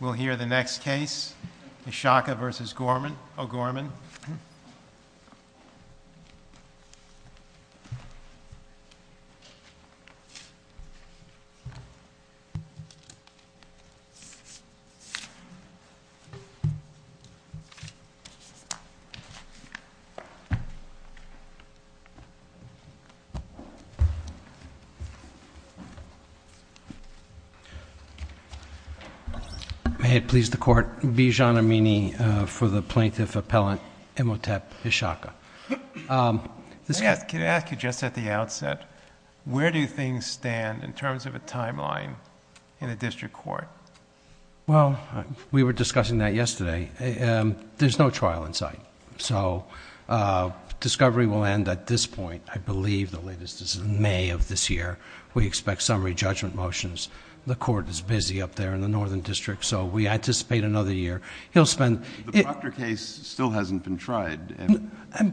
We'll hear the next case, H'Shaka v. O'Gorman. May it please the Court, Bijan Amini for the Plaintiff Appellant Imhotep H'Shaka. May I ask you, just at the outset, where do things stand in terms of a timeline in a district court? Well, we were discussing that yesterday. There's no trial in sight, so discovery will end at this point. I believe the latest is May of this year. We expect summary judgment motions. The Court is busy up there in the Northern District, so we anticipate another year. The Proctor case still hasn't been tried.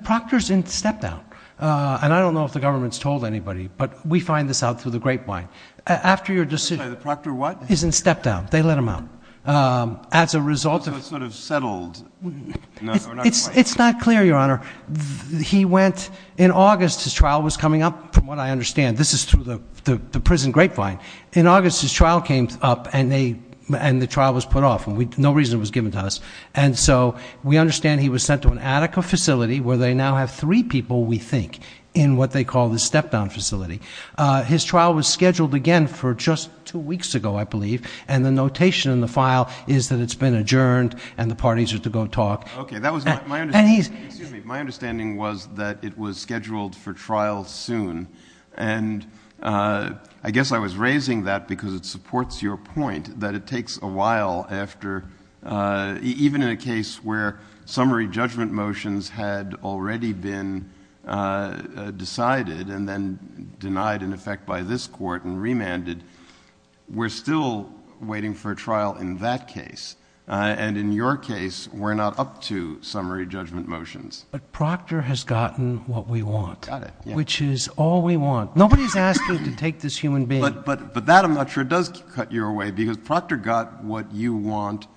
Proctor's in step-down, and I don't know if the government's told anybody, but we find this out through the grapevine. After your decision— I'm sorry, the Proctor what? Is in step-down. They let him out. So it's sort of settled. It's not clear, Your Honor. In August, his trial was coming up, from what I understand. This is through the prison grapevine. In August, his trial came up, and the trial was put off. No reason was given to us, and so we understand he was sent to an Attica facility, where they now have three people, we think, in what they call the step-down facility. His trial was scheduled again for just two weeks ago, I believe, and the notation in the file is that it's been adjourned and the parties are to go talk. Excuse me. My understanding was that it was scheduled for trial soon, and I guess I was raising that because it supports your point that it takes a while after— even in a case where summary judgment motions had already been decided and then denied in effect by this Court and remanded, we're still waiting for a trial in that case. And in your case, we're not up to summary judgment motions. But Proctor has gotten what we want, which is all we want. Nobody's asking to take this human being. But that, I'm not sure, does cut you away because Proctor got what you want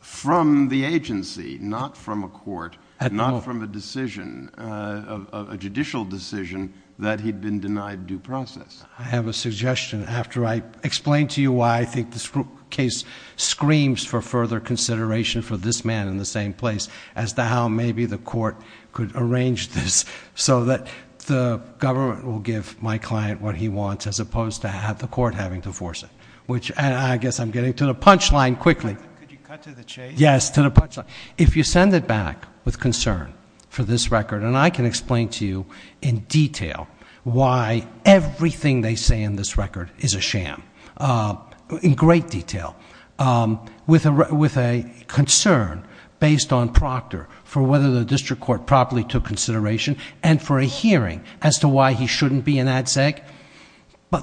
from the agency, not from a court, not from a decision, a judicial decision, that he'd been denied due process. I have a suggestion. After I explain to you why I think this case screams for further consideration for this man in the same place, as to how maybe the Court could arrange this so that the government will give my client what he wants as opposed to have the Court having to force it, which I guess I'm getting to the punchline quickly. Could you cut to the chase? Yes, to the punchline. If you send it back with concern for this record, and I can explain to you in detail why everything they say in this record is a sham, in great detail, with a concern based on Proctor for whether the district court properly took consideration and for a hearing as to why he shouldn't be in ADSEC,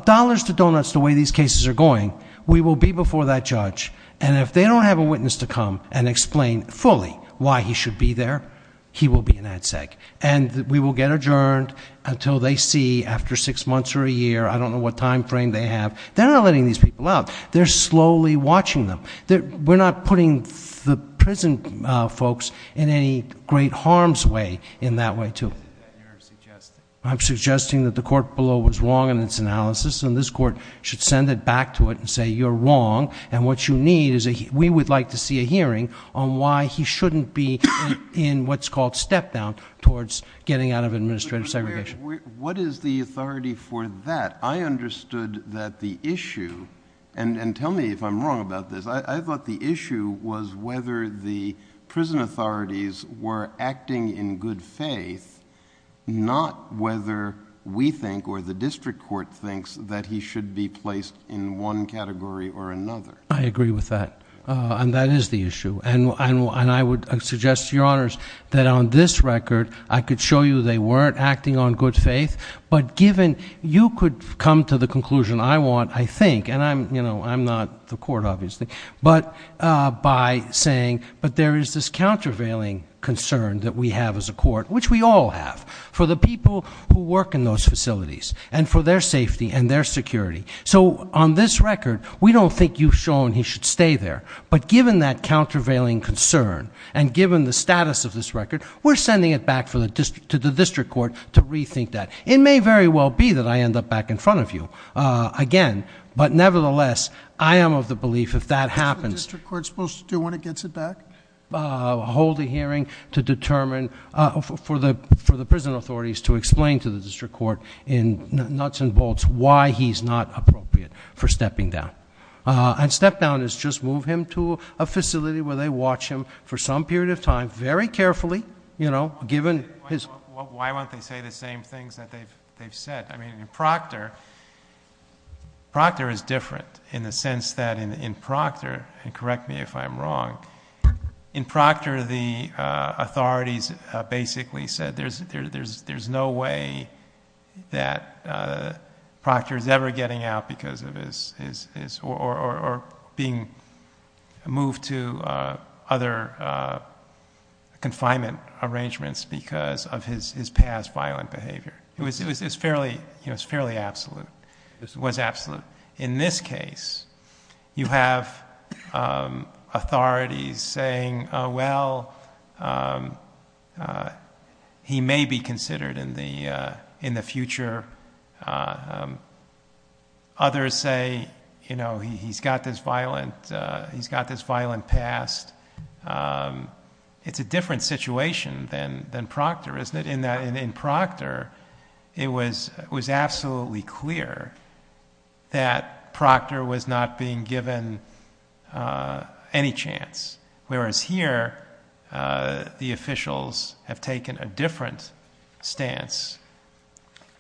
dollars to donuts the way these cases are going, we will be before that judge, and if they don't have a witness to come and explain fully why he should be there, he will be in ADSEC, and we will get adjourned until they see, after six months or a year, I don't know what time frame they have. They're not letting these people out. They're slowly watching them. We're not putting the prison folks in any great harm's way in that way, too. I'm suggesting that the Court below was wrong in its analysis, and this Court should send it back to it and say you're wrong, and what you need is we would like to see a hearing on why he shouldn't be in what's called step-down towards getting out of administrative segregation. What is the authority for that? I understood that the issue, and tell me if I'm wrong about this, I thought the issue was whether the prison authorities were acting in good faith, not whether we think or the district court thinks that he should be placed in one category or another. I agree with that, and that is the issue, and I would suggest to your honors that on this record I could show you they weren't acting on good faith, but given you could come to the conclusion I want, I think, and I'm not the court, obviously, but by saying, but there is this countervailing concern that we have as a court, which we all have for the people who work in those facilities and for their safety and their security. So on this record, we don't think you've shown he should stay there, but given that countervailing concern and given the status of this record, we're sending it back to the district court to rethink that. It may very well be that I end up back in front of you again, but nevertheless, I am of the belief if that happens- Is the district court supposed to do when it gets it back? Hold a hearing to determine, for the prison authorities to explain to the district court in nuts and bolts why he's not appropriate for stepping down, and step down is just move him to a facility where they watch him for some period of time, very carefully, you know, given his- Why won't they say the same things that they've said? I mean, in Proctor, Proctor is different in the sense that in Proctor, and correct me if I'm wrong, in Proctor, the authorities basically said there's no way that Proctor is ever getting out because of his- or being moved to other confinement arrangements because of his past violent behavior. It was fairly absolute. It was absolute. In this case, you have authorities saying, well, he may be considered in the future. Others say, you know, he's got this violent past. It's a different situation than Proctor, isn't it? In Proctor, it was absolutely clear that Proctor was not being given any chance, whereas here, the officials have taken a different stance.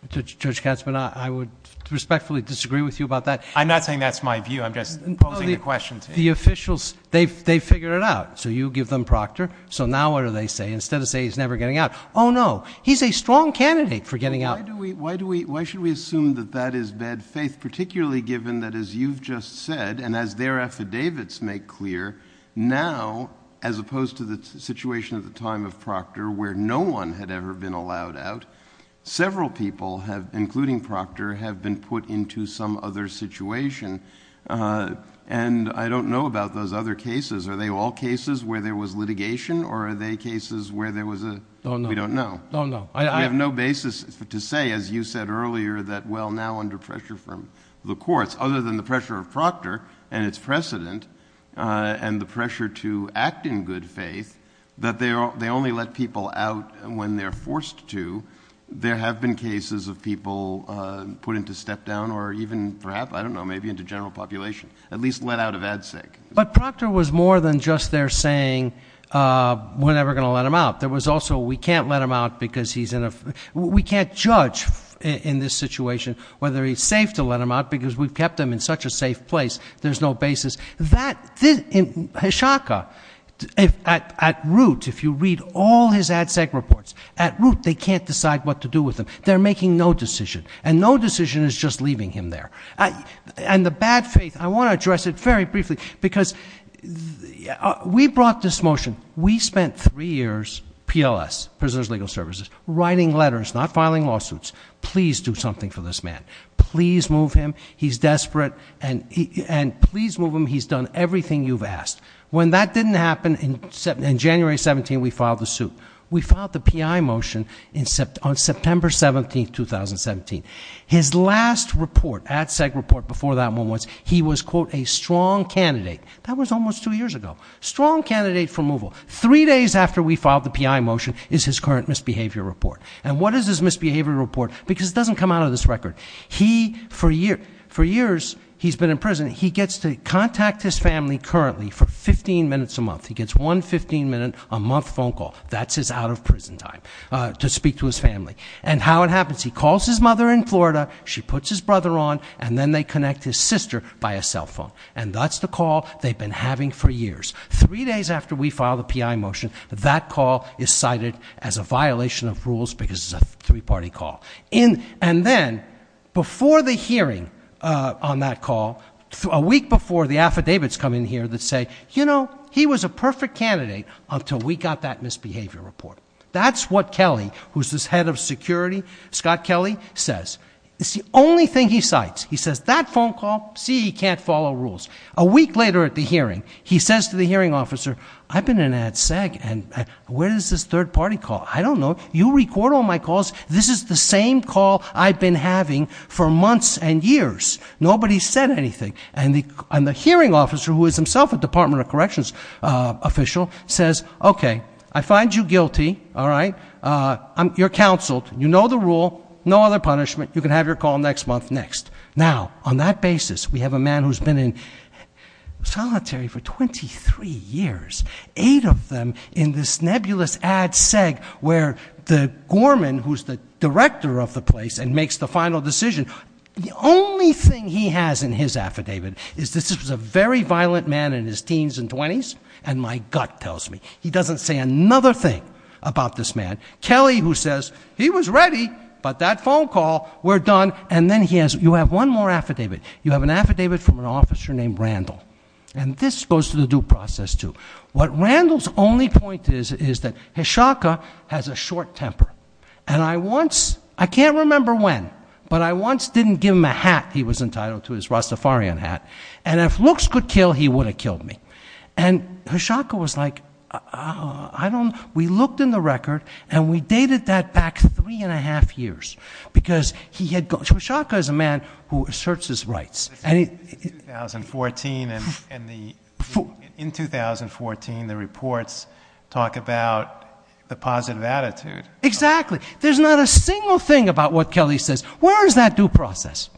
Judge Katzmann, I would respectfully disagree with you about that. I'm not saying that's my view. I'm just posing the question to you. The officials, they figured it out. So you give them Proctor. So now what do they say? Instead of saying he's never getting out, oh, no, he's a strong candidate for getting out. Why should we assume that that is bad faith, particularly given that, as you've just said, and as their affidavits make clear, now, as opposed to the situation at the time of Proctor, where no one had ever been allowed out, several people, including Proctor, have been put into some other situation. And I don't know about those other cases. Are they all cases where there was litigation, or are they cases where there was a we don't know? No, no. I have no basis to say, as you said earlier, that, well, now under pressure from the courts, other than the pressure of Proctor and its precedent and the pressure to act in good faith, that they only let people out when they're forced to. There have been cases of people put into step down or even perhaps, I don't know, maybe into general population, at least let out of ADCIC. But Proctor was more than just there saying, we're never going to let him out. There was also, we can't let him out because he's in a we can't judge in this situation whether he's safe to let him out, because we've kept him in such a safe place. There's no basis. That, in Hishaka, at root, if you read all his ADCIC reports, at root, they can't decide what to do with him. They're making no decision, and no decision is just leaving him there. And the bad faith, I want to address it very briefly, because we brought this motion, we spent three years, PLS, Prisoners Legal Services, writing letters, not filing lawsuits. Please do something for this man. Please move him. He's desperate, and please move him. He's done everything you've asked. When that didn't happen, in January 17, we filed the suit. We filed the PI motion on September 17, 2017. His last report, ADCIC report before that one was, he was, quote, a strong candidate. That was almost two years ago. Strong candidate for removal. Three days after we filed the PI motion is his current misbehavior report. And what is his misbehavior report? Because it doesn't come out of this record. He, for years, he's been in prison. He gets to contact his family currently for 15 minutes a month. He gets one 15 minute a month phone call. That's his out of prison time to speak to his family. And how it happens. He calls his mother in Florida. She puts his brother on, and then they connect his sister by a cell phone. And that's the call they've been having for years. Three days after we filed the PI motion, that call is cited as a violation of rules because it's a three-party call. And then, before the hearing on that call, a week before, the affidavits come in here that say, you know, he was a perfect candidate until we got that misbehavior report. That's what Kelly, who's this head of security, Scott Kelly, says. It's the only thing he cites. He says, that phone call, see, he can't follow rules. A week later at the hearing, he says to the hearing officer, I've been in ADSEC, and where is this third-party call? I don't know. You record all my calls. This is the same call I've been having for months and years. Nobody's said anything. And the hearing officer, who is himself a Department of Corrections official, says, okay, I find you guilty. All right? You're counseled. You know the rule. No other punishment. You can have your call next month next. Now, on that basis, we have a man who's been in solitary for 23 years, eight of them in this nebulous ADSEC where the gorman, who's the director of the place and makes the final decision, the only thing he has in his affidavit is this is a very violent man in his teens and 20s, and my gut tells me. He doesn't say another thing about this man. Kelly, who says, he was ready, but that phone call, we're done. And then he has, you have one more affidavit. You have an affidavit from an officer named Randall. And this goes to the due process, too. What Randall's only point is, is that Hishoka has a short temper. And I once, I can't remember when, but I once didn't give him a hat. He was entitled to his Rastafarian hat. And if looks could kill, he would have killed me. And Hishoka was like, I don't, we looked in the record, and we dated that back three and a half years. Because he had, Hishoka is a man who asserts his rights. In 2014, the reports talk about the positive attitude. Exactly. There's not a single thing about what Kelly says. Where is that due process?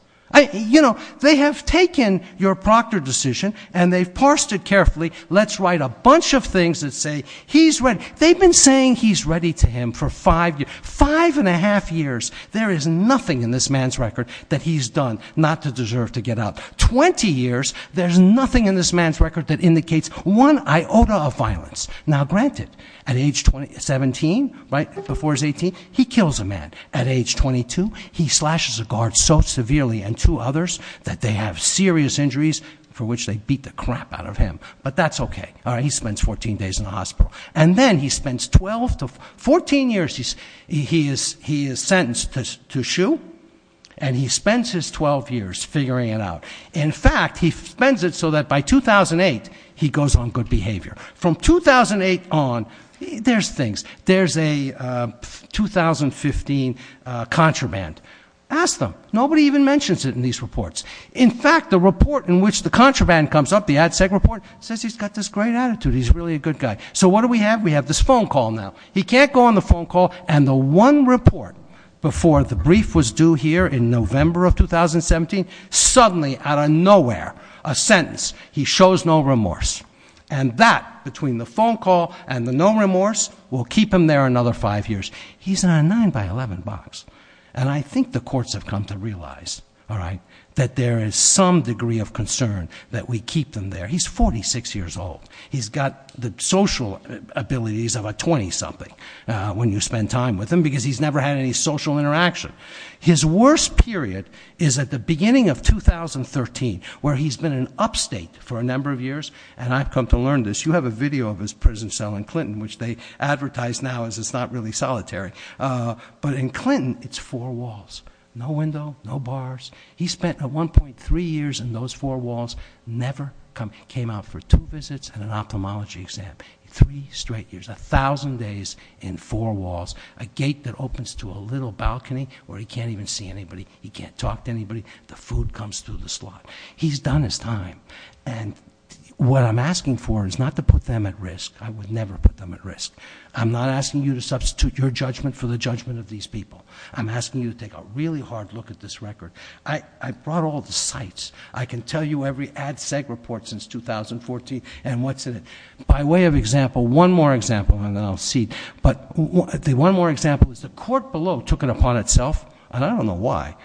You know, they have taken your proctor decision, and they've parsed it carefully. Let's write a bunch of things that say he's ready. They've been saying he's ready to him for five, five and a half years. There is nothing in this man's record that he's done not to deserve to get out. 20 years, there's nothing in this man's record that indicates one iota of violence. Now, granted, at age 17, right, before he's 18, he kills a man. At age 22, he slashes a guard so severely, and two others, that they have serious injuries for which they beat the crap out of him. But that's okay. All right, he spends 14 days in the hospital. And then he spends 12 to 14 years, he is sentenced to shoo, and he spends his 12 years figuring it out. In fact, he spends it so that by 2008, he goes on good behavior. From 2008 on, there's things. There's a 2015 contraband. Ask them. Nobody even mentions it in these reports. In fact, the report in which the contraband comes up, the Ad Sec report, says he's got this great attitude. He's really a good guy. So what do we have? We have this phone call now. He can't go on the phone call. And the one report before the brief was due here in November of 2017, suddenly, out of nowhere, a sentence. He shows no remorse. And that, between the phone call and the no remorse, will keep him there another five years. He's on a 9 by 11 box. And I think the courts have come to realize, all right, that there is some degree of concern that we keep them there. He's 46 years old. He's got the social abilities of a 20-something when you spend time with him, because he's never had any social interaction. His worst period is at the beginning of 2013, where he's been in upstate for a number of years. And I've come to learn this. You have a video of his prison cell in Clinton, which they advertise now as it's not really solitary. But in Clinton, it's four walls. No window. No bars. He spent 1.3 years in those four walls. Never came out for two visits and an ophthalmology exam. Three straight years. 1,000 days in four walls. A gate that opens to a little balcony where he can't even see anybody. He can't talk to anybody. The food comes through the slot. He's done his time. And what I'm asking for is not to put them at risk. I would never put them at risk. I'm not asking you to substitute your judgment for the judgment of these people. I'm asking you to take a really hard look at this record. I brought all the sites. I can tell you every ad sec report since 2014 and what's in it. By way of example, one more example, and then I'll cede. But the one more example is the court below took it upon itself, and I don't know why.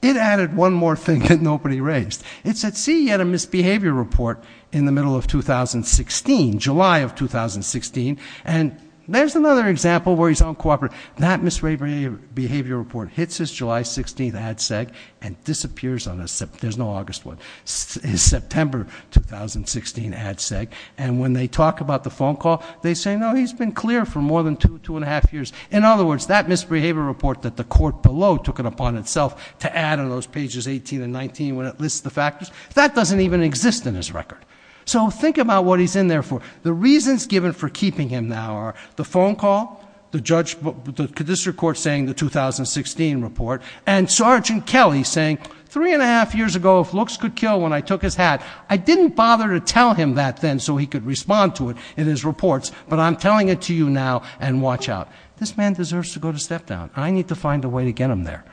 It added one more thing that nobody raised. It said, see, you had a misbehavior report in the middle of 2016, July of 2016. And there's another example where he's uncooperative. That misbehavior report hits his July 16th ad sec and disappears on his September 2016 ad sec. And when they talk about the phone call, they say, no, he's been clear for more than two, two and a half years. In other words, that misbehavior report that the court below took it upon itself to add on those pages 18 and 19 when it lists the factors, that doesn't even exist in his record. So think about what he's in there for. The reasons given for keeping him now are the phone call, the district court saying the 2016 report, and Sergeant Kelly saying three and a half years ago if looks could kill when I took his hat. I didn't bother to tell him that then so he could respond to it in his reports, but I'm telling it to you now and watch out. This man deserves to go to step down. I need to find a way to get him there.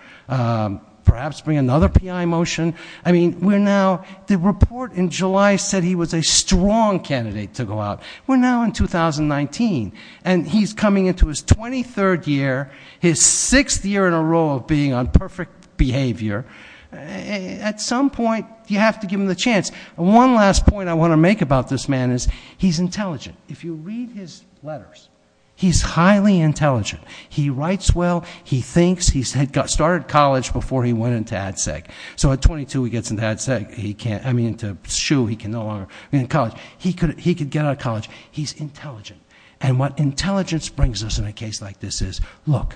Perhaps bring another PI motion. I mean, we're now, the report in July said he was a strong candidate to go out. We're now in 2019. And he's coming into his 23rd year, his sixth year in a row of being on perfect behavior. At some point, you have to give him the chance. One last point I want to make about this man is he's intelligent. If you read his letters, he's highly intelligent. He writes well. He thinks. He started college before he went into ad sec. So at 22, he gets into ad sec. He can't, I mean, into SHU, he can no longer, I mean, college. He could get out of college. He's intelligent. And what intelligence brings us in a case like this is, look,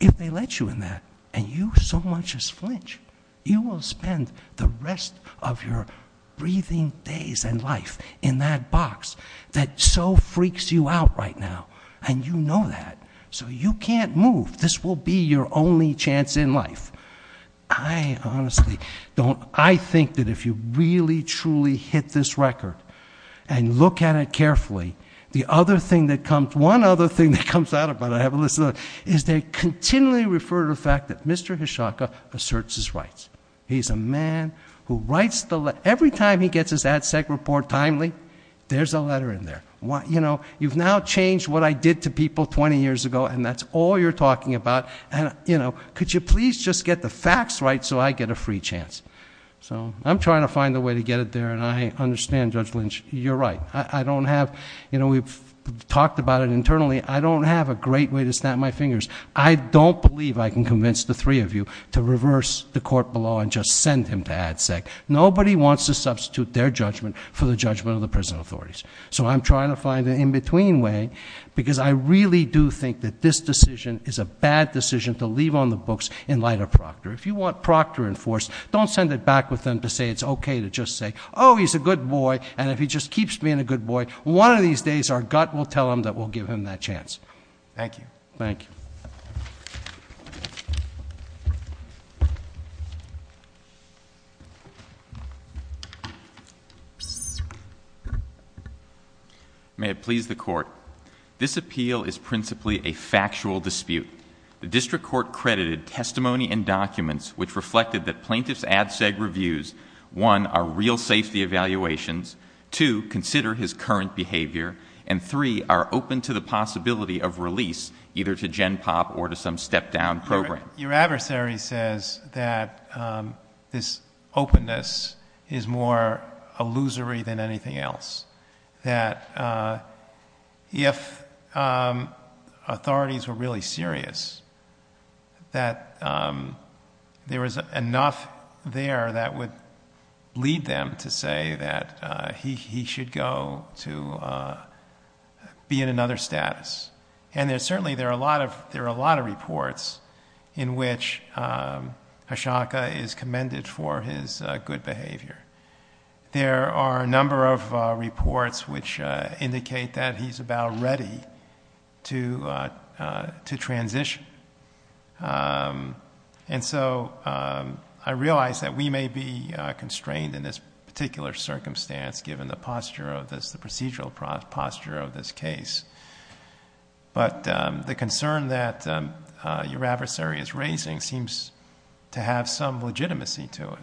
if they let you in that, and you so much as flinch, you will spend the rest of your breathing days and life in that box that so freaks you out right now. And you know that. So you can't move. This will be your only chance in life. I honestly don't, I think that if you really, truly hit this record and look at it carefully, the other thing that comes, one other thing that comes out of it, I have a list of it, is they continually refer to the fact that Mr. Hishaka asserts his rights. He's a man who writes the, every time he gets his ad sec report timely, there's a letter in there. You know, you've now changed what I did to people 20 years ago, and that's all you're talking about. And you know, could you please just get the facts right so I get a free chance? So I'm trying to find a way to get it there, and I understand, Judge Lynch, you're right. I don't have, you know, we've talked about it internally, I don't have a great way to snap my fingers. I don't believe I can convince the three of you to reverse the court below and just send him to ad sec. Nobody wants to substitute their judgment for the judgment of the prison authorities. So I'm trying to find an in-between way, because I really do think that this decision is a bad decision to leave on the books in light of Proctor. If you want Proctor enforced, don't send it back with them to say it's okay to just say, he's a good boy. And if he just keeps being a good boy, one of these days our gut will tell him that we'll give him that chance. Thank you. Thank you. May it please the court. This appeal is principally a factual dispute. The district court credited testimony and documents which reflected that plaintiff's ad sec reviews, one, are real safety evaluations, two, consider his current behavior, and three, are open to the possibility of release, either to GenPOP or to some step-down program. Your adversary says that this openness is more illusory than anything else, that if authorities were really serious, that there was enough there that would lead them to say that he should go to be in another status. And certainly there are a lot of reports in which Ashoka is commended for his good behavior. There are a number of reports which indicate that he's about ready to transition. And so I realize that we may be constrained in this particular circumstance, given the posture of this, the procedural posture of this case. But the concern that your adversary is raising seems to have some legitimacy to it.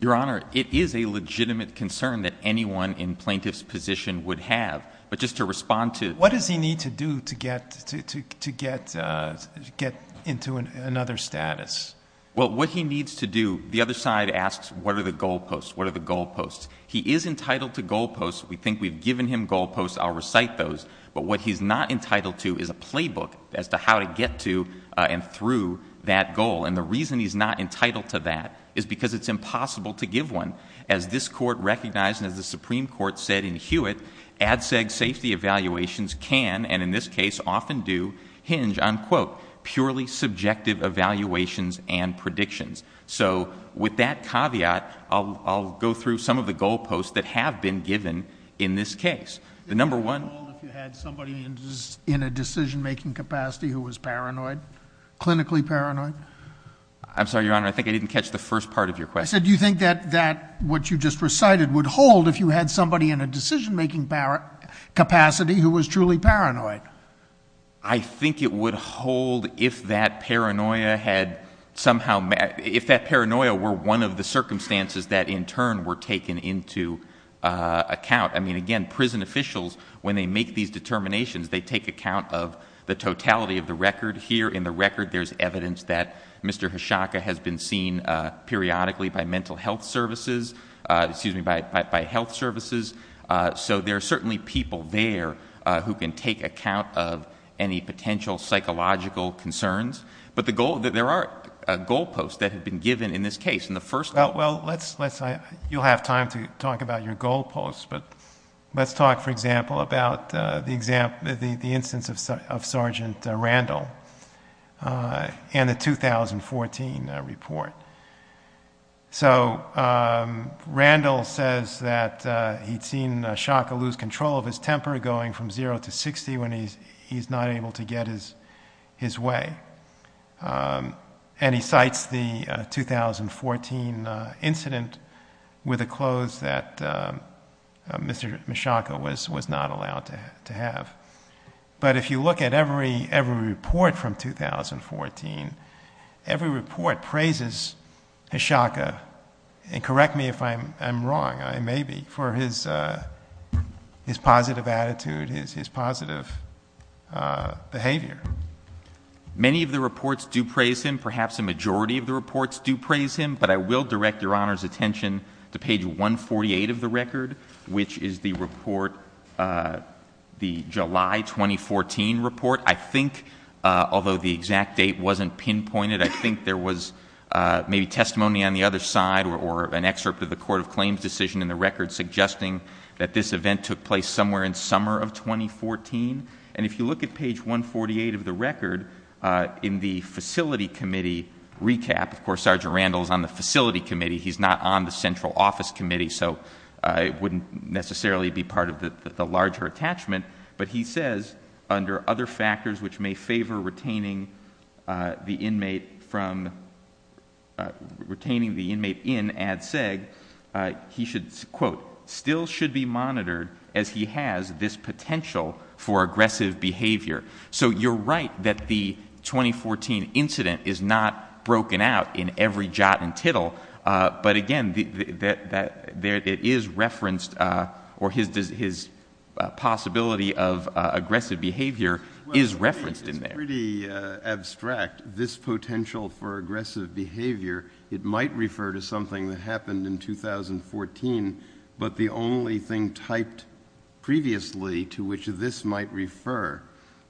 Your Honor, it is a legitimate concern that anyone in plaintiff's position would have. But just to respond to it. What does he need to do to get into another status? Well, what he needs to do, the other side asks what are the goal posts, what are the goal posts. He is entitled to goal posts. We think we've given him goal posts. I'll recite those. But what he's not entitled to is a playbook as to how to get to and through that goal. And the reason he's not entitled to that is because it's impossible to give one. As this Court recognized and as the Supreme Court said in Hewitt, ADSEG safety evaluations can, and in this case often do, hinge on, quote, purely subjective evaluations and predictions. So with that caveat, I'll go through some of the goal posts that have been given in this case. The number one. Would it hold if you had somebody in a decision-making capacity who was paranoid, clinically paranoid? I'm sorry, Your Honor. I think I didn't catch the first part of your question. I said do you think that what you just recited would hold if you had somebody in a decision-making capacity who was truly paranoid? I think it would hold if that paranoia had somehow met, if that paranoia were one of the circumstances that in turn were taken into account. I mean, again, prison officials, when they make these determinations, they take account of the totality of the record. Here in the record there's evidence that Mr. Hoshaka has been seen periodically by mental health services, excuse me, by health services. So there are certainly people there who can take account of any potential psychological concerns. But the goal, there are goal posts that have been given in this case. And the first one. Well, let's, you'll have time to talk about your goal posts, but let's talk, for example, about the instance of Sergeant Randall and the 2014 report. So Randall says that he'd seen Hoshaka lose control of his temper going from zero to 60 when he's not able to get his way. And he cites the 2014 incident with the clothes that Mr. Hoshaka was not allowed to have. But if you look at every report from 2014, every report praises Hoshaka, and correct me if I'm wrong, I may be, for his positive attitude, his positive behavior. Many of the reports do praise him. Perhaps a majority of the reports do praise him. But I will direct Your Honor's attention to page 148 of the record, which is the report, the July 2014 report. I think, although the exact date wasn't pinpointed, I think there was maybe testimony on the other side or an excerpt of the court of claims decision in the record suggesting that this event took place somewhere in summer of 2014. And if you look at page 148 of the record, in the facility committee recap, of course Sergeant Randall is on the facility committee, he's not on the central office committee, so it wouldn't necessarily be part of the larger attachment. But he says, under other factors which may favor retaining the inmate in ad seg, he should, quote, still should be monitored as he has this potential for aggressive behavior. So you're right that the 2014 incident is not broken out in every jot and tittle. But, again, it is referenced, or his possibility of aggressive behavior is referenced in there. It's pretty abstract, this potential for aggressive behavior. It might refer to something that happened in 2014, but the only thing typed previously to which this might refer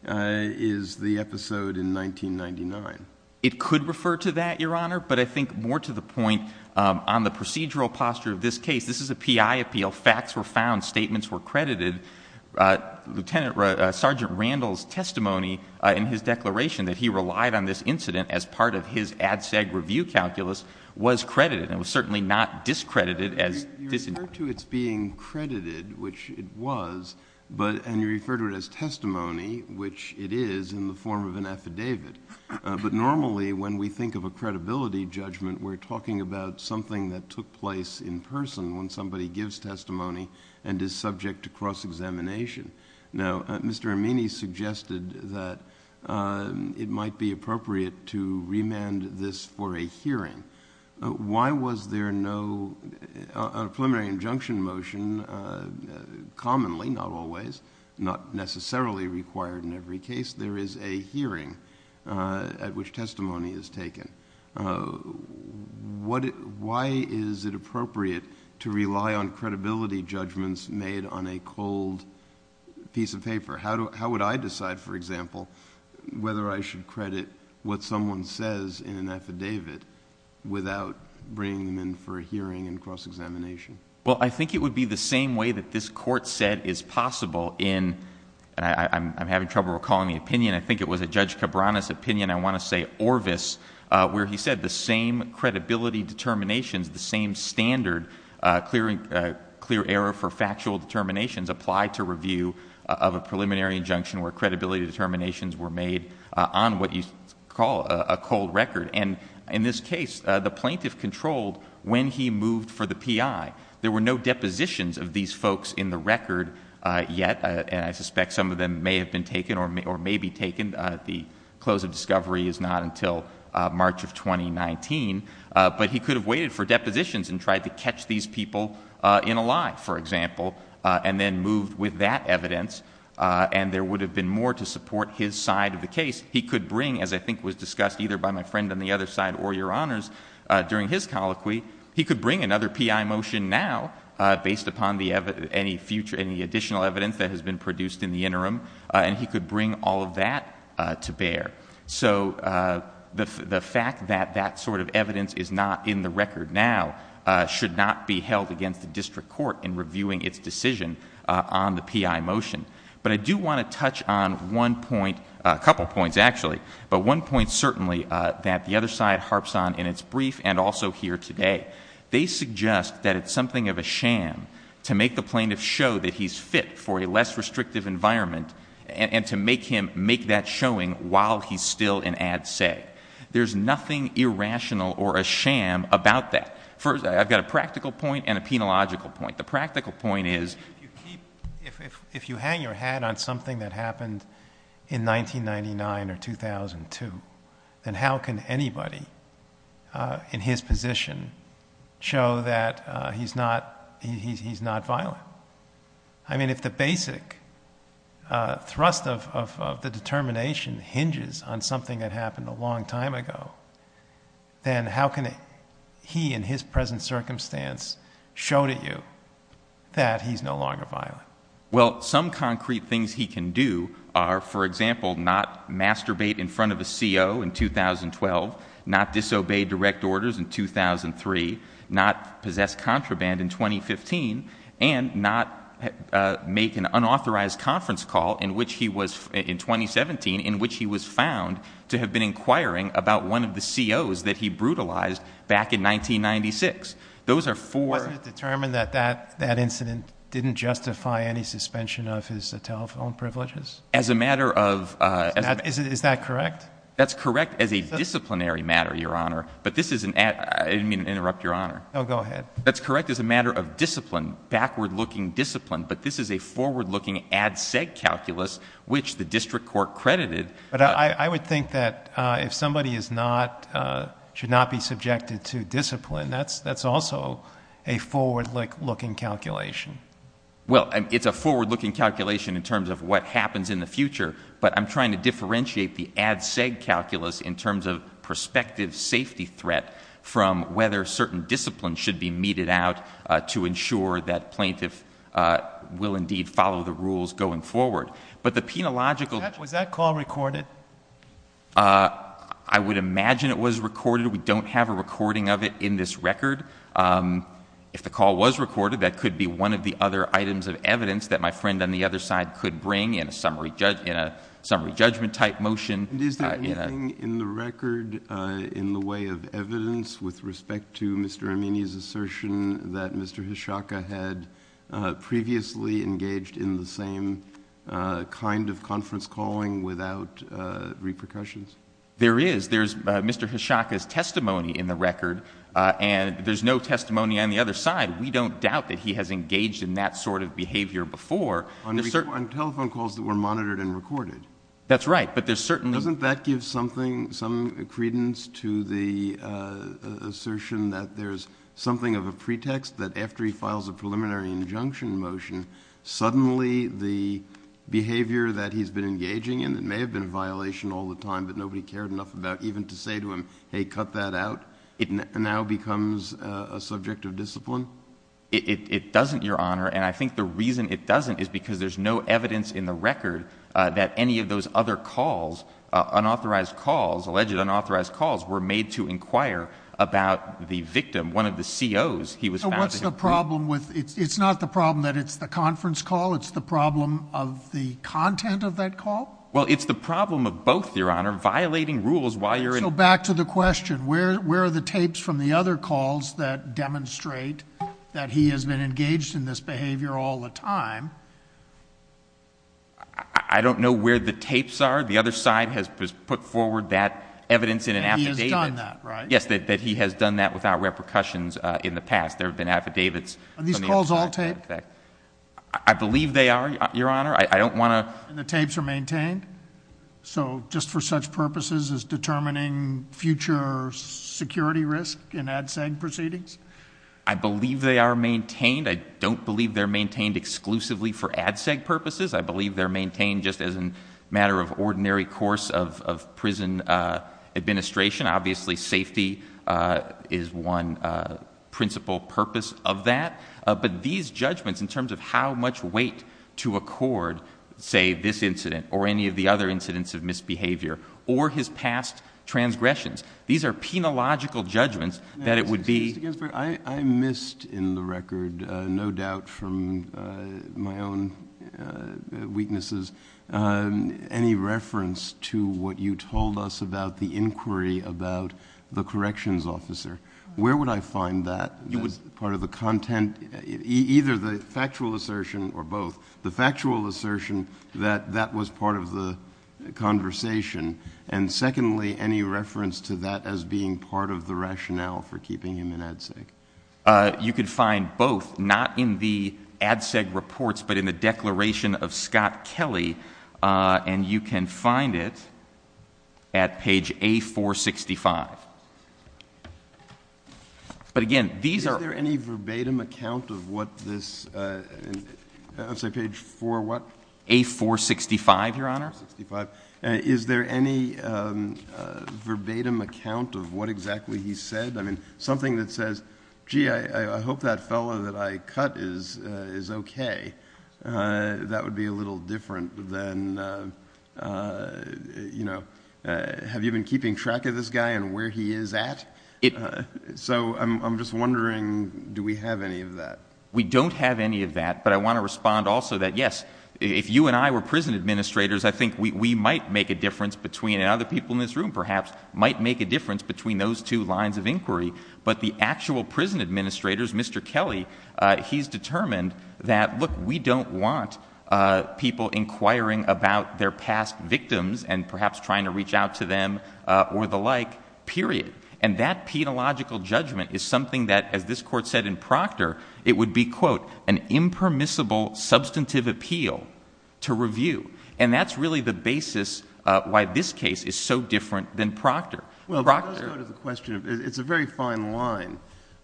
is the episode in 1999. It could refer to that, Your Honor, but I think more to the point on the procedural posture of this case. This is a PI appeal. Facts were found. Statements were credited. Lieutenant Sergeant Randall's testimony in his declaration that he relied on this incident as part of his ad seg review calculus was credited. It was certainly not discredited. You refer to its being credited, which it was, and you refer to it as testimony, which it is in the form of an affidavit. But normally when we think of a credibility judgment, we're talking about something that took place in person when somebody gives testimony and is subject to cross-examination. Now, Mr. Armini suggested that it might be appropriate to remand this for a hearing. Why was there no preliminary injunction motion? Commonly, not always, not necessarily required in every case, there is a hearing at which testimony is taken. Why is it appropriate to rely on credibility judgments made on a cold piece of paper? How would I decide, for example, whether I should credit what someone says in an affidavit without bringing them in for a hearing and cross-examination? Well, I think it would be the same way that this Court said is possible in, and I'm having trouble recalling the opinion, I think it was a Judge Cabrera's opinion, I want to say Orvis, where he said the same credibility determinations, the same standard, clear error for factual determinations apply to review of a preliminary injunction where credibility determinations were made on what you call a cold record. And in this case, the plaintiff controlled when he moved for the PI. There were no depositions of these folks in the record yet, and I suspect some of them may have been taken or may be taken. The close of discovery is not until March of 2019. But he could have waited for depositions and tried to catch these people in a lie, for example, and then moved with that evidence, and there would have been more to support his side of the case. He could bring, as I think was discussed either by my friend on the other side or Your Honors during his colloquy, he could bring another PI motion now based upon any additional evidence that has been produced in the interim, and he could bring all of that to bear. So the fact that that sort of evidence is not in the record now should not be held against the district court in reviewing its decision on the PI motion. But I do want to touch on one point, a couple points actually, but one point certainly that the other side harps on in its brief and also here today. They suggest that it's something of a sham to make the plaintiff show that he's fit for a less restrictive environment and to make him make that showing while he's still in ad se. There's nothing irrational or a sham about that. I've got a practical point and a penological point. The practical point is if you hang your hat on something that happened in 1999 or 2002, then how can anybody in his position show that he's not violent? I mean, if the basic thrust of the determination hinges on something that happened a long time ago, then how can he in his present circumstance show to you that he's no longer violent? Well, some concrete things he can do are, for example, not masturbate in front of a CO in 2012, not disobey direct orders in 2003, not possess contraband in 2015, and not make an unauthorized conference call in 2017, in which he was found to have been inquiring about one of the COs that he brutalized back in 1996. Wasn't it determined that that incident didn't justify any suspension of his telephone privileges? Is that correct? That's correct as a disciplinary matter, Your Honor. I didn't mean to interrupt, Your Honor. Oh, go ahead. That's correct as a matter of discipline, backward-looking discipline, but this is a forward-looking ad-seg calculus which the district court credited. But I would think that if somebody is not, should not be subjected to discipline, that's also a forward-looking calculation. Well, it's a forward-looking calculation in terms of what happens in the future, but I'm trying to differentiate the ad-seg calculus in terms of prospective safety threat from whether certain disciplines should be meted out to ensure that plaintiff will indeed follow the rules going forward. But the penological — Was that call recorded? I would imagine it was recorded. We don't have a recording of it in this record. If the call was recorded, that could be one of the other items of evidence that my friend on the other side could bring in a summary judgment-type motion. And is there anything in the record in the way of evidence with respect to Mr. Amini's assertion that Mr. Hishaka had previously engaged in the same kind of conference calling without repercussions? There is. There's Mr. Hishaka's testimony in the record, and there's no testimony on the other side. We don't doubt that he has engaged in that sort of behavior before. On telephone calls that were monitored and recorded? That's right. But there's certainly — Doesn't that give something, some credence to the assertion that there's something of a pretext that after he files a preliminary injunction motion, suddenly the behavior that he's been engaging in that may have been a violation all the time but nobody cared enough about even to say to him, hey, cut that out, it now becomes a subject of discipline? It doesn't, Your Honor. And I think the reason it doesn't is because there's no evidence in the record that any of those other calls, unauthorized calls, alleged unauthorized calls, were made to inquire about the victim, one of the COs. So what's the problem with — it's not the problem that it's the conference call. It's the problem of the content of that call? Well, it's the problem of both, Your Honor. Violating rules while you're in — So back to the question. Where are the tapes from the other calls that demonstrate that he has been engaged in this behavior all the time? I don't know where the tapes are. The other side has put forward that evidence in an affidavit. He has done that, right? Yes, that he has done that without repercussions in the past. There have been affidavits — Are these calls all taped? I believe they are, Your Honor. I don't want to — And the tapes are maintained? So just for such purposes as determining future security risk in ADSEG proceedings? I believe they are maintained. I don't believe they're maintained exclusively for ADSEG purposes. I believe they're maintained just as a matter of ordinary course of prison administration. Obviously, safety is one principal purpose of that. But these judgments in terms of how much weight to accord, say, this incident or any of the other incidents of misbehavior or his past transgressions, these are penological judgments that it would be — Mr. Ginsburg, I missed in the record, no doubt from my own weaknesses, any reference to what you told us about the inquiry about the corrections officer. Where would I find that as part of the content, either the factual assertion or both, the factual assertion that that was part of the conversation? And secondly, any reference to that as being part of the rationale for keeping him in ADSEG? You could find both, not in the ADSEG reports, but in the declaration of Scott Kelly, and you can find it at page A465. But again, these are — Is there any verbatim account of what this — I'm sorry, page 4 what? A465, Your Honor. A465. Is there any verbatim account of what exactly he said? I mean, something that says, gee, I hope that fellow that I cut is okay. That would be a little different than, you know, have you been keeping track of this guy and where he is at? So I'm just wondering, do we have any of that? But the actual prison administrators, Mr. Kelly, he's determined that, look, we don't want people inquiring about their past victims and perhaps trying to reach out to them or the like, period. And that penological judgment is something that, as this Court said in Proctor, it would be, quote, an impermissible substantive appeal to review. And that's really the basis why this case is so different than Proctor. Well, let's go to the question of — it's a very fine line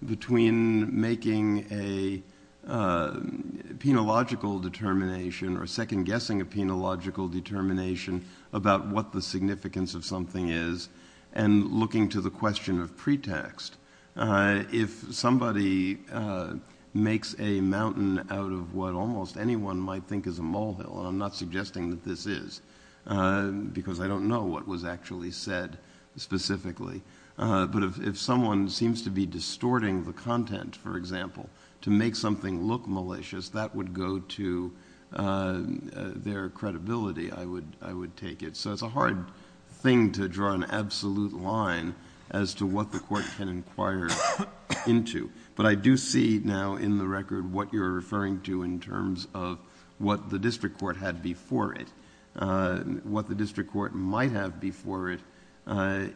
between making a penological determination or second-guessing a penological determination about what the significance of something is and looking to the question of pretext. If somebody makes a mountain out of what almost anyone might think is a molehill, and I'm not suggesting that this is because I don't know what was actually said specifically. But if someone seems to be distorting the content, for example, to make something look malicious, that would go to their credibility, I would take it. So it's a hard thing to draw an absolute line as to what the Court can inquire into. But I do see now in the record what you're referring to in terms of what the district court had before it. What the district court might have before it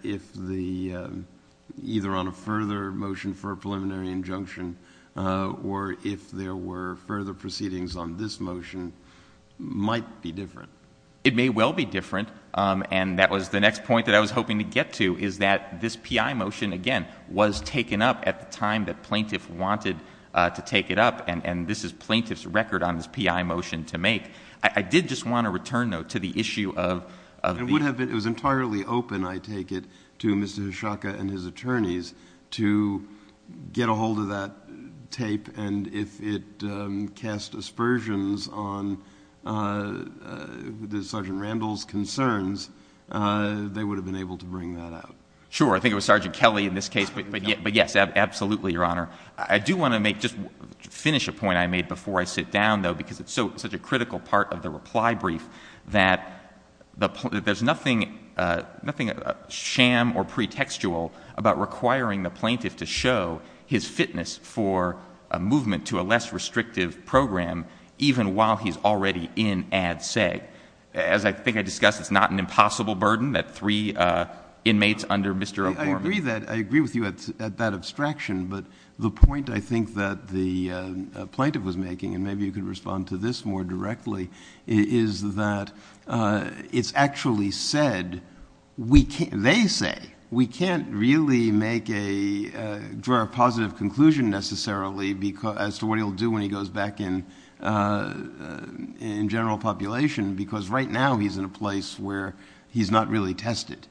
if the — either on a further motion for a preliminary injunction or if there were further proceedings on this motion might be different. It may well be different, and that was the next point that I was hoping to get to, is that this P.I. motion, again, was taken up at the time that plaintiff wanted to take it up, and this is plaintiff's record on this P.I. motion to make. I did just want to return, though, to the issue of — It would have been — it was entirely open, I take it, to Mr. Hishoka and his attorneys to get a hold of that tape, and if it cast aspersions on Sergeant Randall's concerns, they would have been able to bring that out. Sure. I think it was Sergeant Kelly in this case. But, yes, absolutely, Your Honor. I do want to make — just finish a point I made before I sit down, though, because it's such a critical part of the reply brief, that there's nothing sham or pretextual about requiring the plaintiff to show his fitness for a movement to a less restrictive program even while he's already in Ad Seg. As I think I discussed, it's not an impossible burden that three inmates under Mr. O'Gorman — The point I think that the plaintiff was making, and maybe you could respond to this more directly, is that it's actually said we can't — they say we can't really make a — draw a positive conclusion necessarily as to what he'll do when he goes back in general population because right now he's in a place where he's not really tested.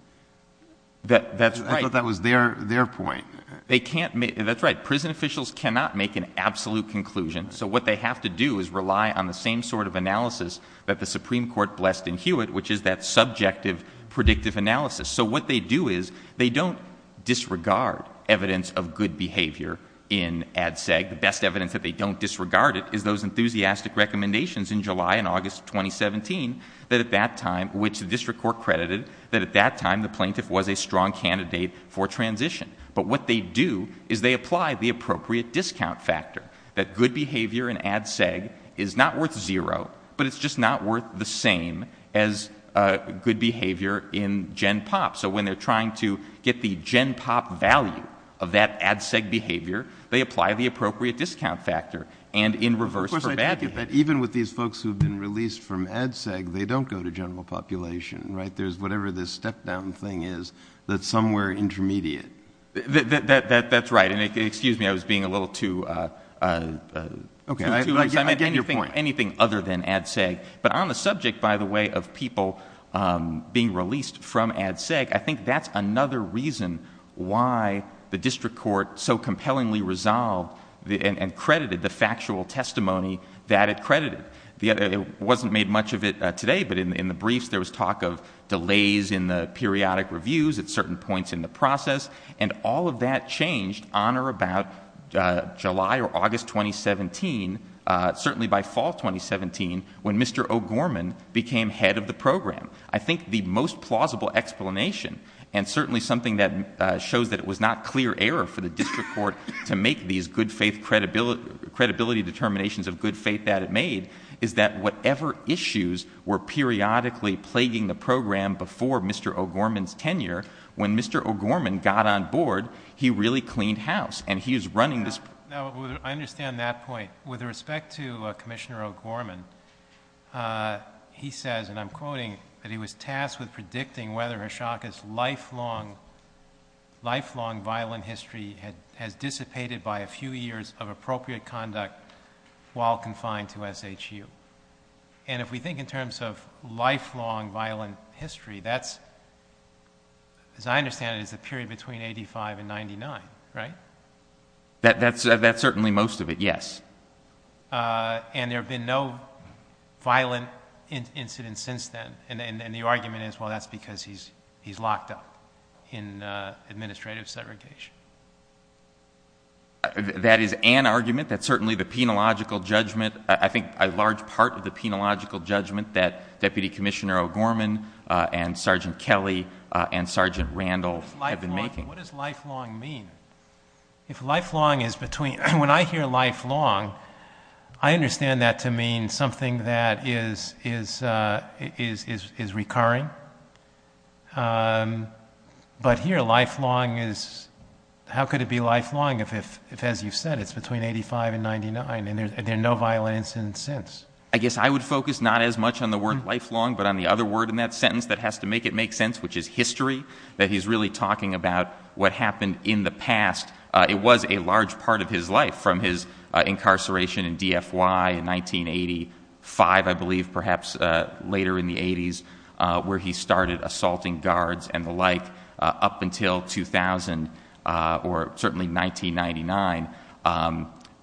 That's right. I thought that was their point. They can't — that's right. Prison officials cannot make an absolute conclusion, so what they have to do is rely on the same sort of analysis that the Supreme Court blessed in Hewitt, which is that subjective predictive analysis. So what they do is they don't disregard evidence of good behavior in Ad Seg. The best evidence that they don't disregard it is those enthusiastic recommendations in July and August of 2017 that at that time — which the district court credited — that at that time the plaintiff was a strong candidate for transition. But what they do is they apply the appropriate discount factor, that good behavior in Ad Seg is not worth zero, but it's just not worth the same as good behavior in Gen Pop. So when they're trying to get the Gen Pop value of that Ad Seg behavior, they apply the appropriate discount factor and in reverse for bad behavior. Of course, I take it that even with these folks who have been released from Ad Seg, they don't go to general population, right? There's whatever this step-down thing is that's somewhere intermediate. That's right. And excuse me, I was being a little too — Okay, I get your point. But on the subject, by the way, of people being released from Ad Seg, I think that's another reason why the district court so compellingly resolved and credited the factual testimony that it credited. It wasn't made much of it today, but in the briefs there was talk of delays in the periodic reviews at certain points in the process, and all of that changed on or about July or August 2017. Certainly by fall 2017, when Mr. O'Gorman became head of the program. I think the most plausible explanation, and certainly something that shows that it was not clear error for the district court to make these good faith credibility determinations of good faith that it made, is that whatever issues were periodically plaguing the program before Mr. O'Gorman's tenure, when Mr. O'Gorman got on board, he really cleaned house. No, I understand that point. With respect to Commissioner O'Gorman, he says, and I'm quoting, that he was tasked with predicting whether Hashaka's lifelong violent history has dissipated by a few years of appropriate conduct while confined to SHU. And if we think in terms of lifelong violent history, that's, as I understand it, is a period between 85 and 99, right? That's certainly most of it, yes. And there have been no violent incidents since then. And the argument is, well, that's because he's locked up in administrative segregation. That is an argument. That's certainly the penological judgment. I think a large part of the penological judgment that Deputy Commissioner O'Gorman and Sergeant Kelly and Sergeant Randall have been making. What does lifelong mean? If lifelong is between, when I hear lifelong, I understand that to mean something that is recurring. But here, lifelong is, how could it be lifelong if, as you said, it's between 85 and 99 and there are no violent incidents since? I guess I would focus not as much on the word lifelong, but on the other word in that sentence that has to make it make sense, which is history. That he's really talking about what happened in the past. It was a large part of his life, from his incarceration in DFY in 1985, I believe, perhaps later in the 80s, where he started assaulting guards and the like, up until 2000, or certainly 1999.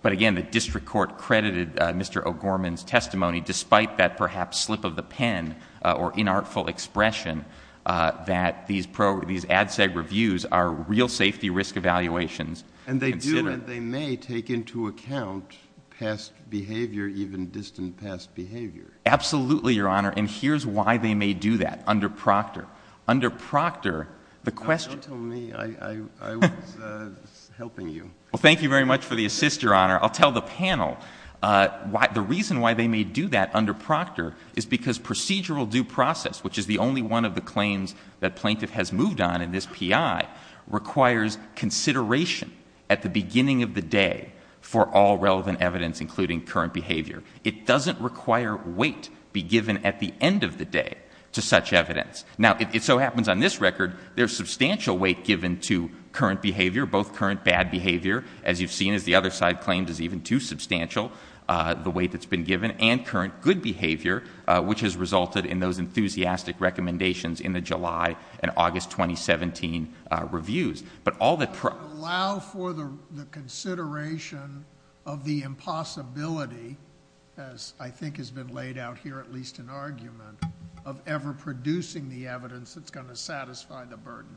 But again, the district court credited Mr. O'Gorman's testimony, despite that perhaps slip of the pen or inartful expression, that these ADSEG reviews are real safety risk evaluations. And they do and they may take into account past behavior, even distant past behavior. Absolutely, Your Honor. And here's why they may do that under Proctor. Under Proctor, the question— Don't tell me. I was helping you. Well, thank you very much for the assist, Your Honor. I'll tell the panel. The reason why they may do that under Proctor is because procedural due process, which is the only one of the claims that plaintiff has moved on in this PI, requires consideration at the beginning of the day for all relevant evidence, including current behavior. It doesn't require weight be given at the end of the day to such evidence. Now, it so happens on this record, there's substantial weight given to current behavior, both current bad behavior, as you've seen, as the other side claims is even too substantial, the weight that's been given, and current good behavior, which has resulted in those enthusiastic recommendations in the July and August 2017 reviews. But allow for the consideration of the impossibility, as I think has been laid out here, at least in argument, of ever producing the evidence that's going to satisfy the burden.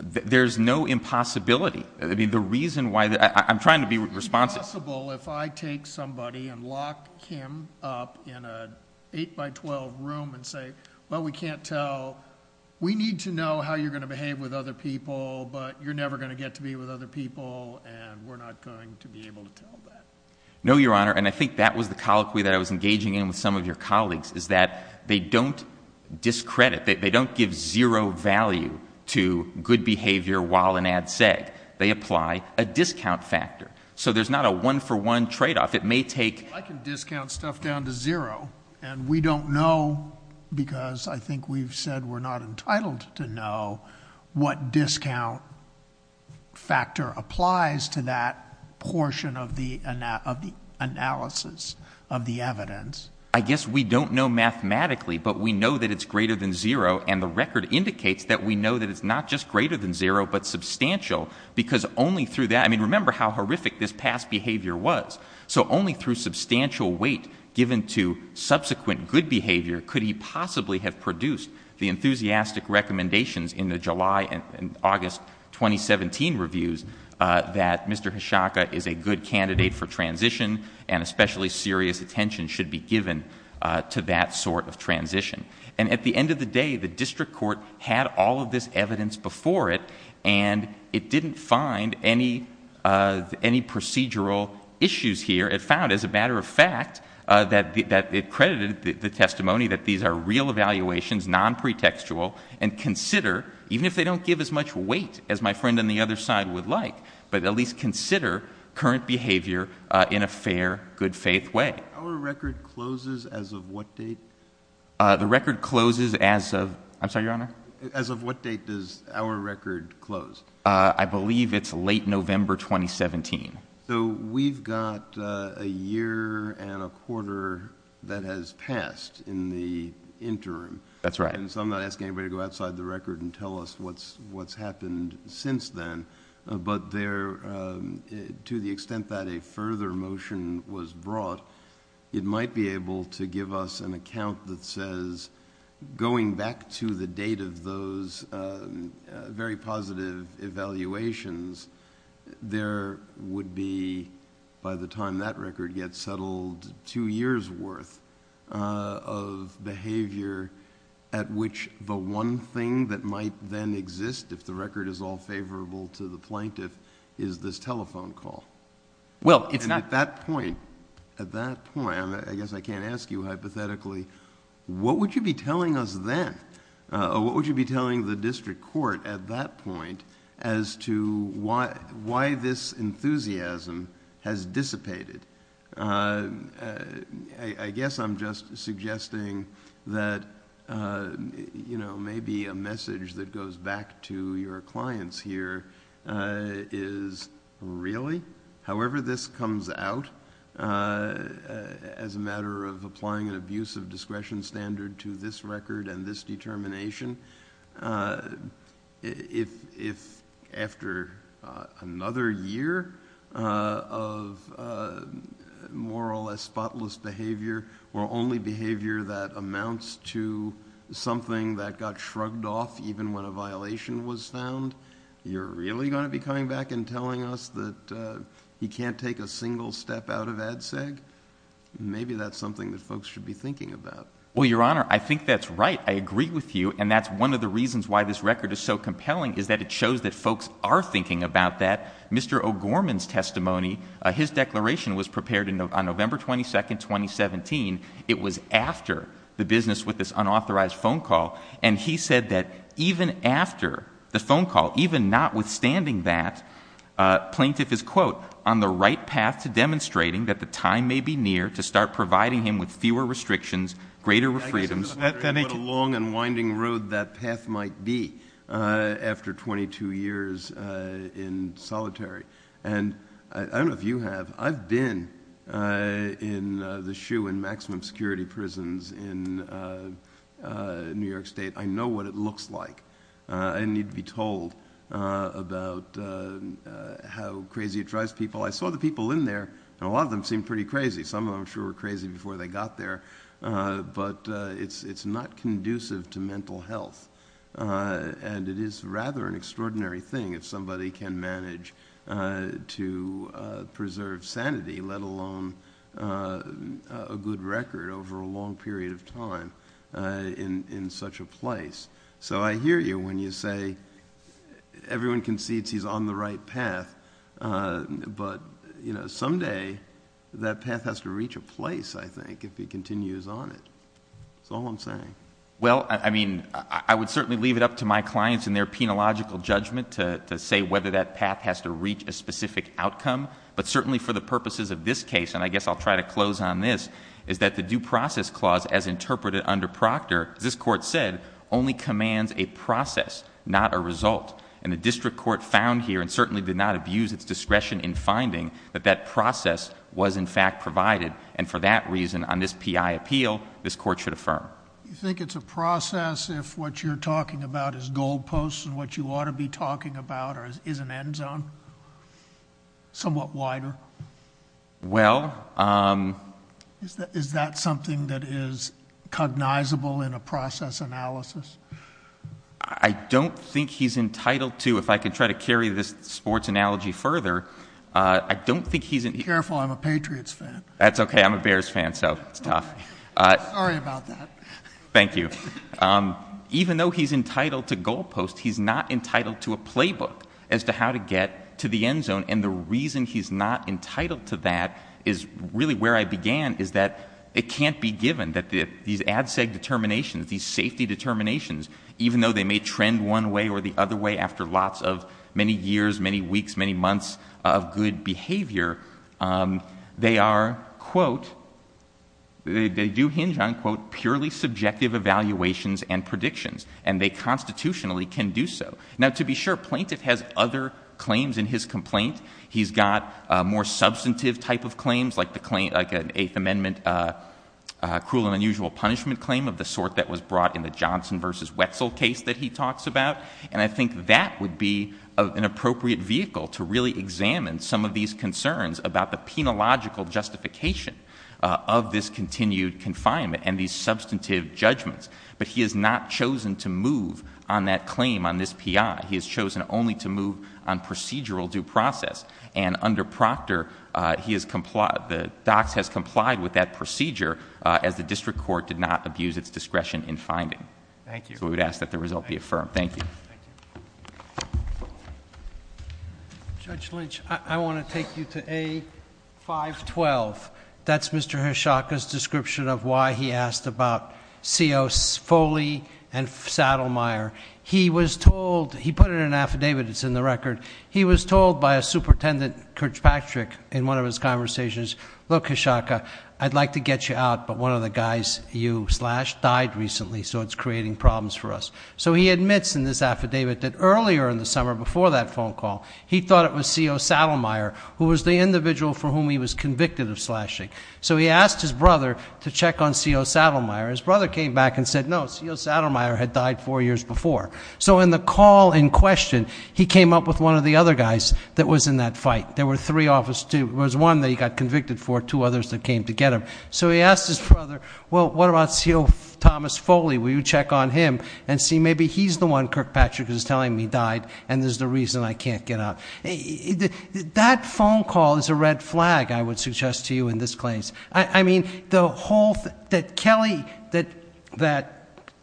There's no impossibility. The reason why—I'm trying to be responsive. It's impossible if I take somebody and lock him up in an 8-by-12 room and say, well, we can't tell. We need to know how you're going to behave with other people, but you're never going to get to be with other people, and we're not going to be able to tell that. No, Your Honor, and I think that was the colloquy that I was engaging in with some of your colleagues, is that they don't discredit, they don't give zero value to good behavior while in ad seg. They apply a discount factor. So there's not a one-for-one tradeoff. It may take— I can discount stuff down to zero, and we don't know because I think we've said we're not entitled to know what discount factor applies to that portion of the analysis of the evidence. I guess we don't know mathematically, but we know that it's greater than zero, and the record indicates that we know that it's not just greater than zero but substantial because only through that— I mean, remember how horrific this past behavior was. So only through substantial weight given to subsequent good behavior could he possibly have produced the enthusiastic recommendations in the July and August 2017 reviews that Mr. Hishaka is a good candidate for transition and especially serious attention should be given to that sort of transition. And at the end of the day, the district court had all of this evidence before it, and it didn't find any procedural issues here. It found, as a matter of fact, that it credited the testimony that these are real evaluations, nonpretextual, and consider, even if they don't give as much weight as my friend on the other side would like, but at least consider current behavior in a fair, good-faith way. Our record closes as of what date? The record closes as of—I'm sorry, Your Honor? As of what date does our record close? I believe it's late November 2017. So we've got a year and a quarter that has passed in the interim. That's right. And so I'm not asking anybody to go outside the record and tell us what's happened since then, but to the extent that a further motion was brought, it might be able to give us an account that says, going back to the date of those very positive evaluations, there would be, by the time that record gets settled, two years' worth of behavior at which the one thing that might then exist, if the record is all favorable to the plaintiff, is this telephone call. Well, it's not... At that point, I guess I can't ask you hypothetically, what would you be telling us then? What would you be telling the district court at that point as to why this enthusiasm has dissipated? I guess I'm just suggesting that maybe a message that goes back to your clients here is, really? However this comes out, as a matter of applying an abusive discretion standard to this record and this determination, if after another year of more or less spotless behavior, or only behavior that amounts to something that got shrugged off even when a violation was found, you're really going to be coming back and telling us that he can't take a single step out of ADSEG? Maybe that's something that folks should be thinking about. Well, Your Honor, I think that's right. I agree with you, and that's one of the reasons why this record is so compelling, is that it shows that folks are thinking about that. Mr. O'Gorman's testimony, his declaration was prepared on November 22, 2017. It was after the business with this unauthorized phone call, and he said that even after the phone call, even notwithstanding that, plaintiff is, quote, on the right path to demonstrating that the time may be near to start providing him with fewer restrictions, greater freedoms. I guess I'm just wondering what a long and winding road that path might be after 22 years in solitary. I don't know if you have. I've been in the shoe in maximum security prisons in New York State. I know what it looks like. I didn't need to be told about how crazy it drives people. I saw the people in there, and a lot of them seemed pretty crazy. Some of them, I'm sure, were crazy before they got there, but it's not conducive to mental health, and it is rather an extraordinary thing if somebody can manage to preserve sanity, let alone a good record over a long period of time in such a place. So I hear you when you say everyone concedes he's on the right path, but someday that path has to reach a place, I think, if he continues on it. That's all I'm saying. Well, I mean, I would certainly leave it up to my clients and their penological judgment to say whether that path has to reach a specific outcome, but certainly for the purposes of this case, and I guess I'll try to close on this, is that the due process clause, as interpreted under Proctor, as this Court said, only commands a process, not a result. And the district court found here, and certainly did not abuse its discretion in finding, that that process was, in fact, provided, and for that reason, on this P.I. appeal, this Court should affirm. Do you think it's a process if what you're talking about is goalposts and what you ought to be talking about is an end zone, somewhat wider? Well. Is that something that is cognizable in a process analysis? I don't think he's entitled to. If I could try to carry this sports analogy further, I don't think he's entitled to. Be careful. I'm a Patriots fan. That's okay. I'm a Bears fan, so it's tough. Sorry about that. Thank you. Even though he's entitled to goalposts, he's not entitled to a playbook as to how to get to the end zone, and the reason he's not entitled to that is really where I began, is that it can't be given that these ADSEG determinations, these safety determinations, even though they may trend one way or the other way after lots of many years, many weeks, many months of good behavior, they are, quote, they do hinge on, quote, purely subjective evaluations and predictions, and they constitutionally can do so. Now, to be sure, Plaintiff has other claims in his complaint. He's got more substantive type of claims like an Eighth Amendment cruel and unusual punishment claim of the sort that was brought in the Johnson versus Wetzel case that he talks about, and I think that would be an appropriate vehicle to really examine some of these concerns about the penological justification of this continued confinement and these substantive judgments. But he has not chosen to move on that claim on this P.I. He has chosen only to move on procedural due process, and under Proctor the docs has complied with that procedure as the district court did not abuse its discretion in finding. Thank you. So we would ask that the result be affirmed. Thank you. Thank you. Judge Lynch, I want to take you to A. 512. That's Mr. Hachaka's description of why he asked about C.O. Foley and Saddlemeyer. He was told, he put it in an affidavit that's in the record, he was told by a superintendent, Kurt Patrick, in one of his conversations, look, Hachaka, I'd like to get you out, but one of the guys you slashed died recently, so it's creating problems for us. So he admits in this affidavit that earlier in the summer, before that phone call, he thought it was C.O. Saddlemeyer who was the individual for whom he was convicted of slashing. So he asked his brother to check on C.O. Saddlemeyer. His brother came back and said, no, C.O. Saddlemeyer had died four years before. So in the call in question, he came up with one of the other guys that was in that fight. There were three officers. There was one that he got convicted for, two others that came to get him. So he asked his brother, well, what about C.O. Thomas Foley? Will you check on him and see maybe he's the one Kurt Patrick is telling me died, and there's the reason I can't get out. That phone call is a red flag, I would suggest to you in this case. I mean, the whole thing, that Kelly, that-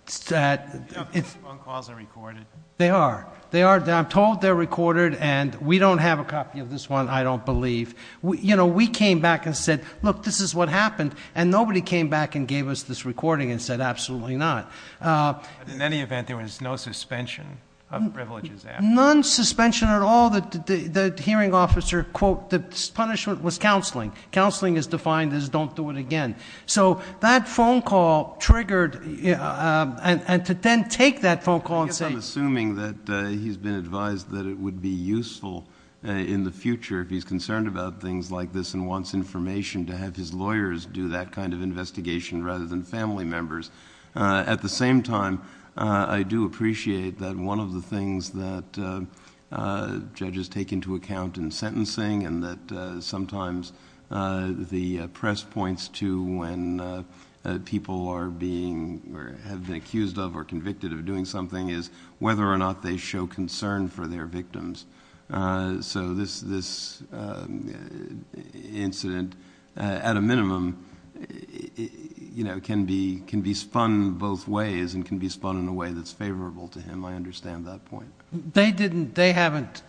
These phone calls are recorded. They are. They are. I'm told they're recorded, and we don't have a copy of this one, I don't believe. We came back and said, look, this is what happened, and nobody came back and gave us this recording and said absolutely not. In any event, there was no suspension of privileges after. None suspension at all. The hearing officer, quote, the punishment was counseling. Counseling is defined as don't do it again. So that phone call triggered, and to then take that phone call and say- I'm assuming that he's been advised that it would be useful in the future if he's concerned about things like this and wants information to have his lawyers do that kind of investigation rather than family members. At the same time, I do appreciate that one of the things that judges take into account in sentencing and that sometimes the press points to when people are being or have been accused of or convicted of doing something is whether or not they show concern for their victims. So this incident, at a minimum, can be spun both ways and can be spun in a way that's favorable to him. I understand that point. They haven't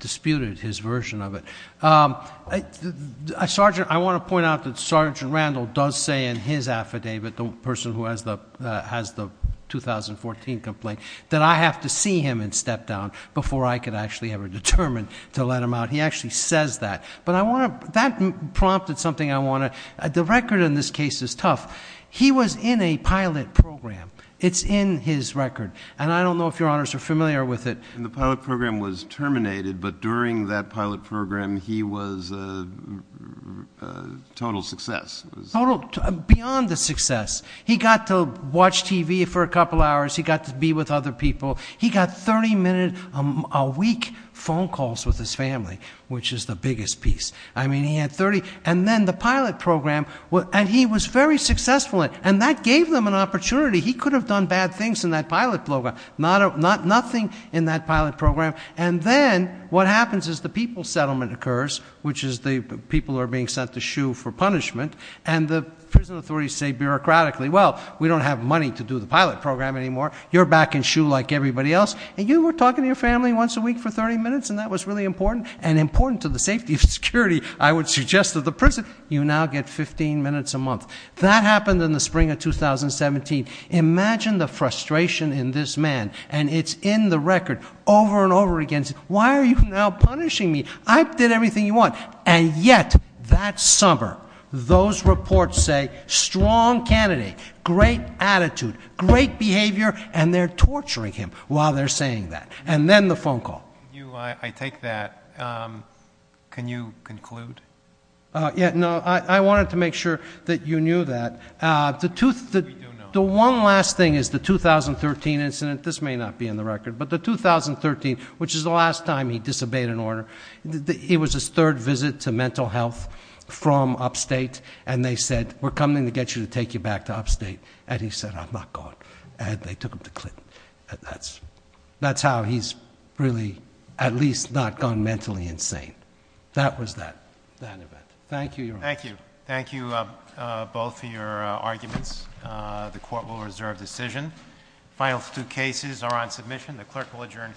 disputed his version of it. I want to point out that Sergeant Randall does say in his affidavit, the person who has the 2014 complaint, that I have to see him and step down before I could actually ever determine to let him out. He actually says that, but that prompted something I want to- the record in this case is tough. He was in a pilot program. It's in his record. And I don't know if Your Honors are familiar with it. The pilot program was terminated, but during that pilot program, he was a total success. Beyond a success. He got to watch TV for a couple hours. He got to be with other people. He got 30-minute a week phone calls with his family, which is the biggest piece. I mean, he had 30. And then the pilot program, and he was very successful in it. And that gave them an opportunity. He could have done bad things in that pilot program. Nothing in that pilot program. And then what happens is the people settlement occurs, which is the people are being sent to SHU for punishment. And the prison authorities say bureaucratically, well, we don't have money to do the pilot program anymore. You're back in SHU like everybody else. And you were talking to your family once a week for 30 minutes, and that was really important. And important to the safety of security, I would suggest to the prison. You now get 15 minutes a month. That happened in the spring of 2017. Imagine the frustration in this man. And it's in the record over and over again. Why are you now punishing me? I did everything you want. And yet, that summer, those reports say strong candidate, great attitude, great behavior, and they're torturing him while they're saying that. And then the phone call. I take that. Can you conclude? I wanted to make sure that you knew that. The one last thing is the 2013 incident. This may not be in the record. But the 2013, which is the last time he disobeyed an order. It was his third visit to mental health from upstate. And they said, we're coming to get you to take you back to upstate. And he said, I'm not going. And they took him to Clinton. That's how he's really at least not gone mentally insane. That was that event. Thank you, Your Honor. Thank you. Thank you both for your arguments. The court will reserve decision. Final two cases are on submission. The clerk will adjourn court.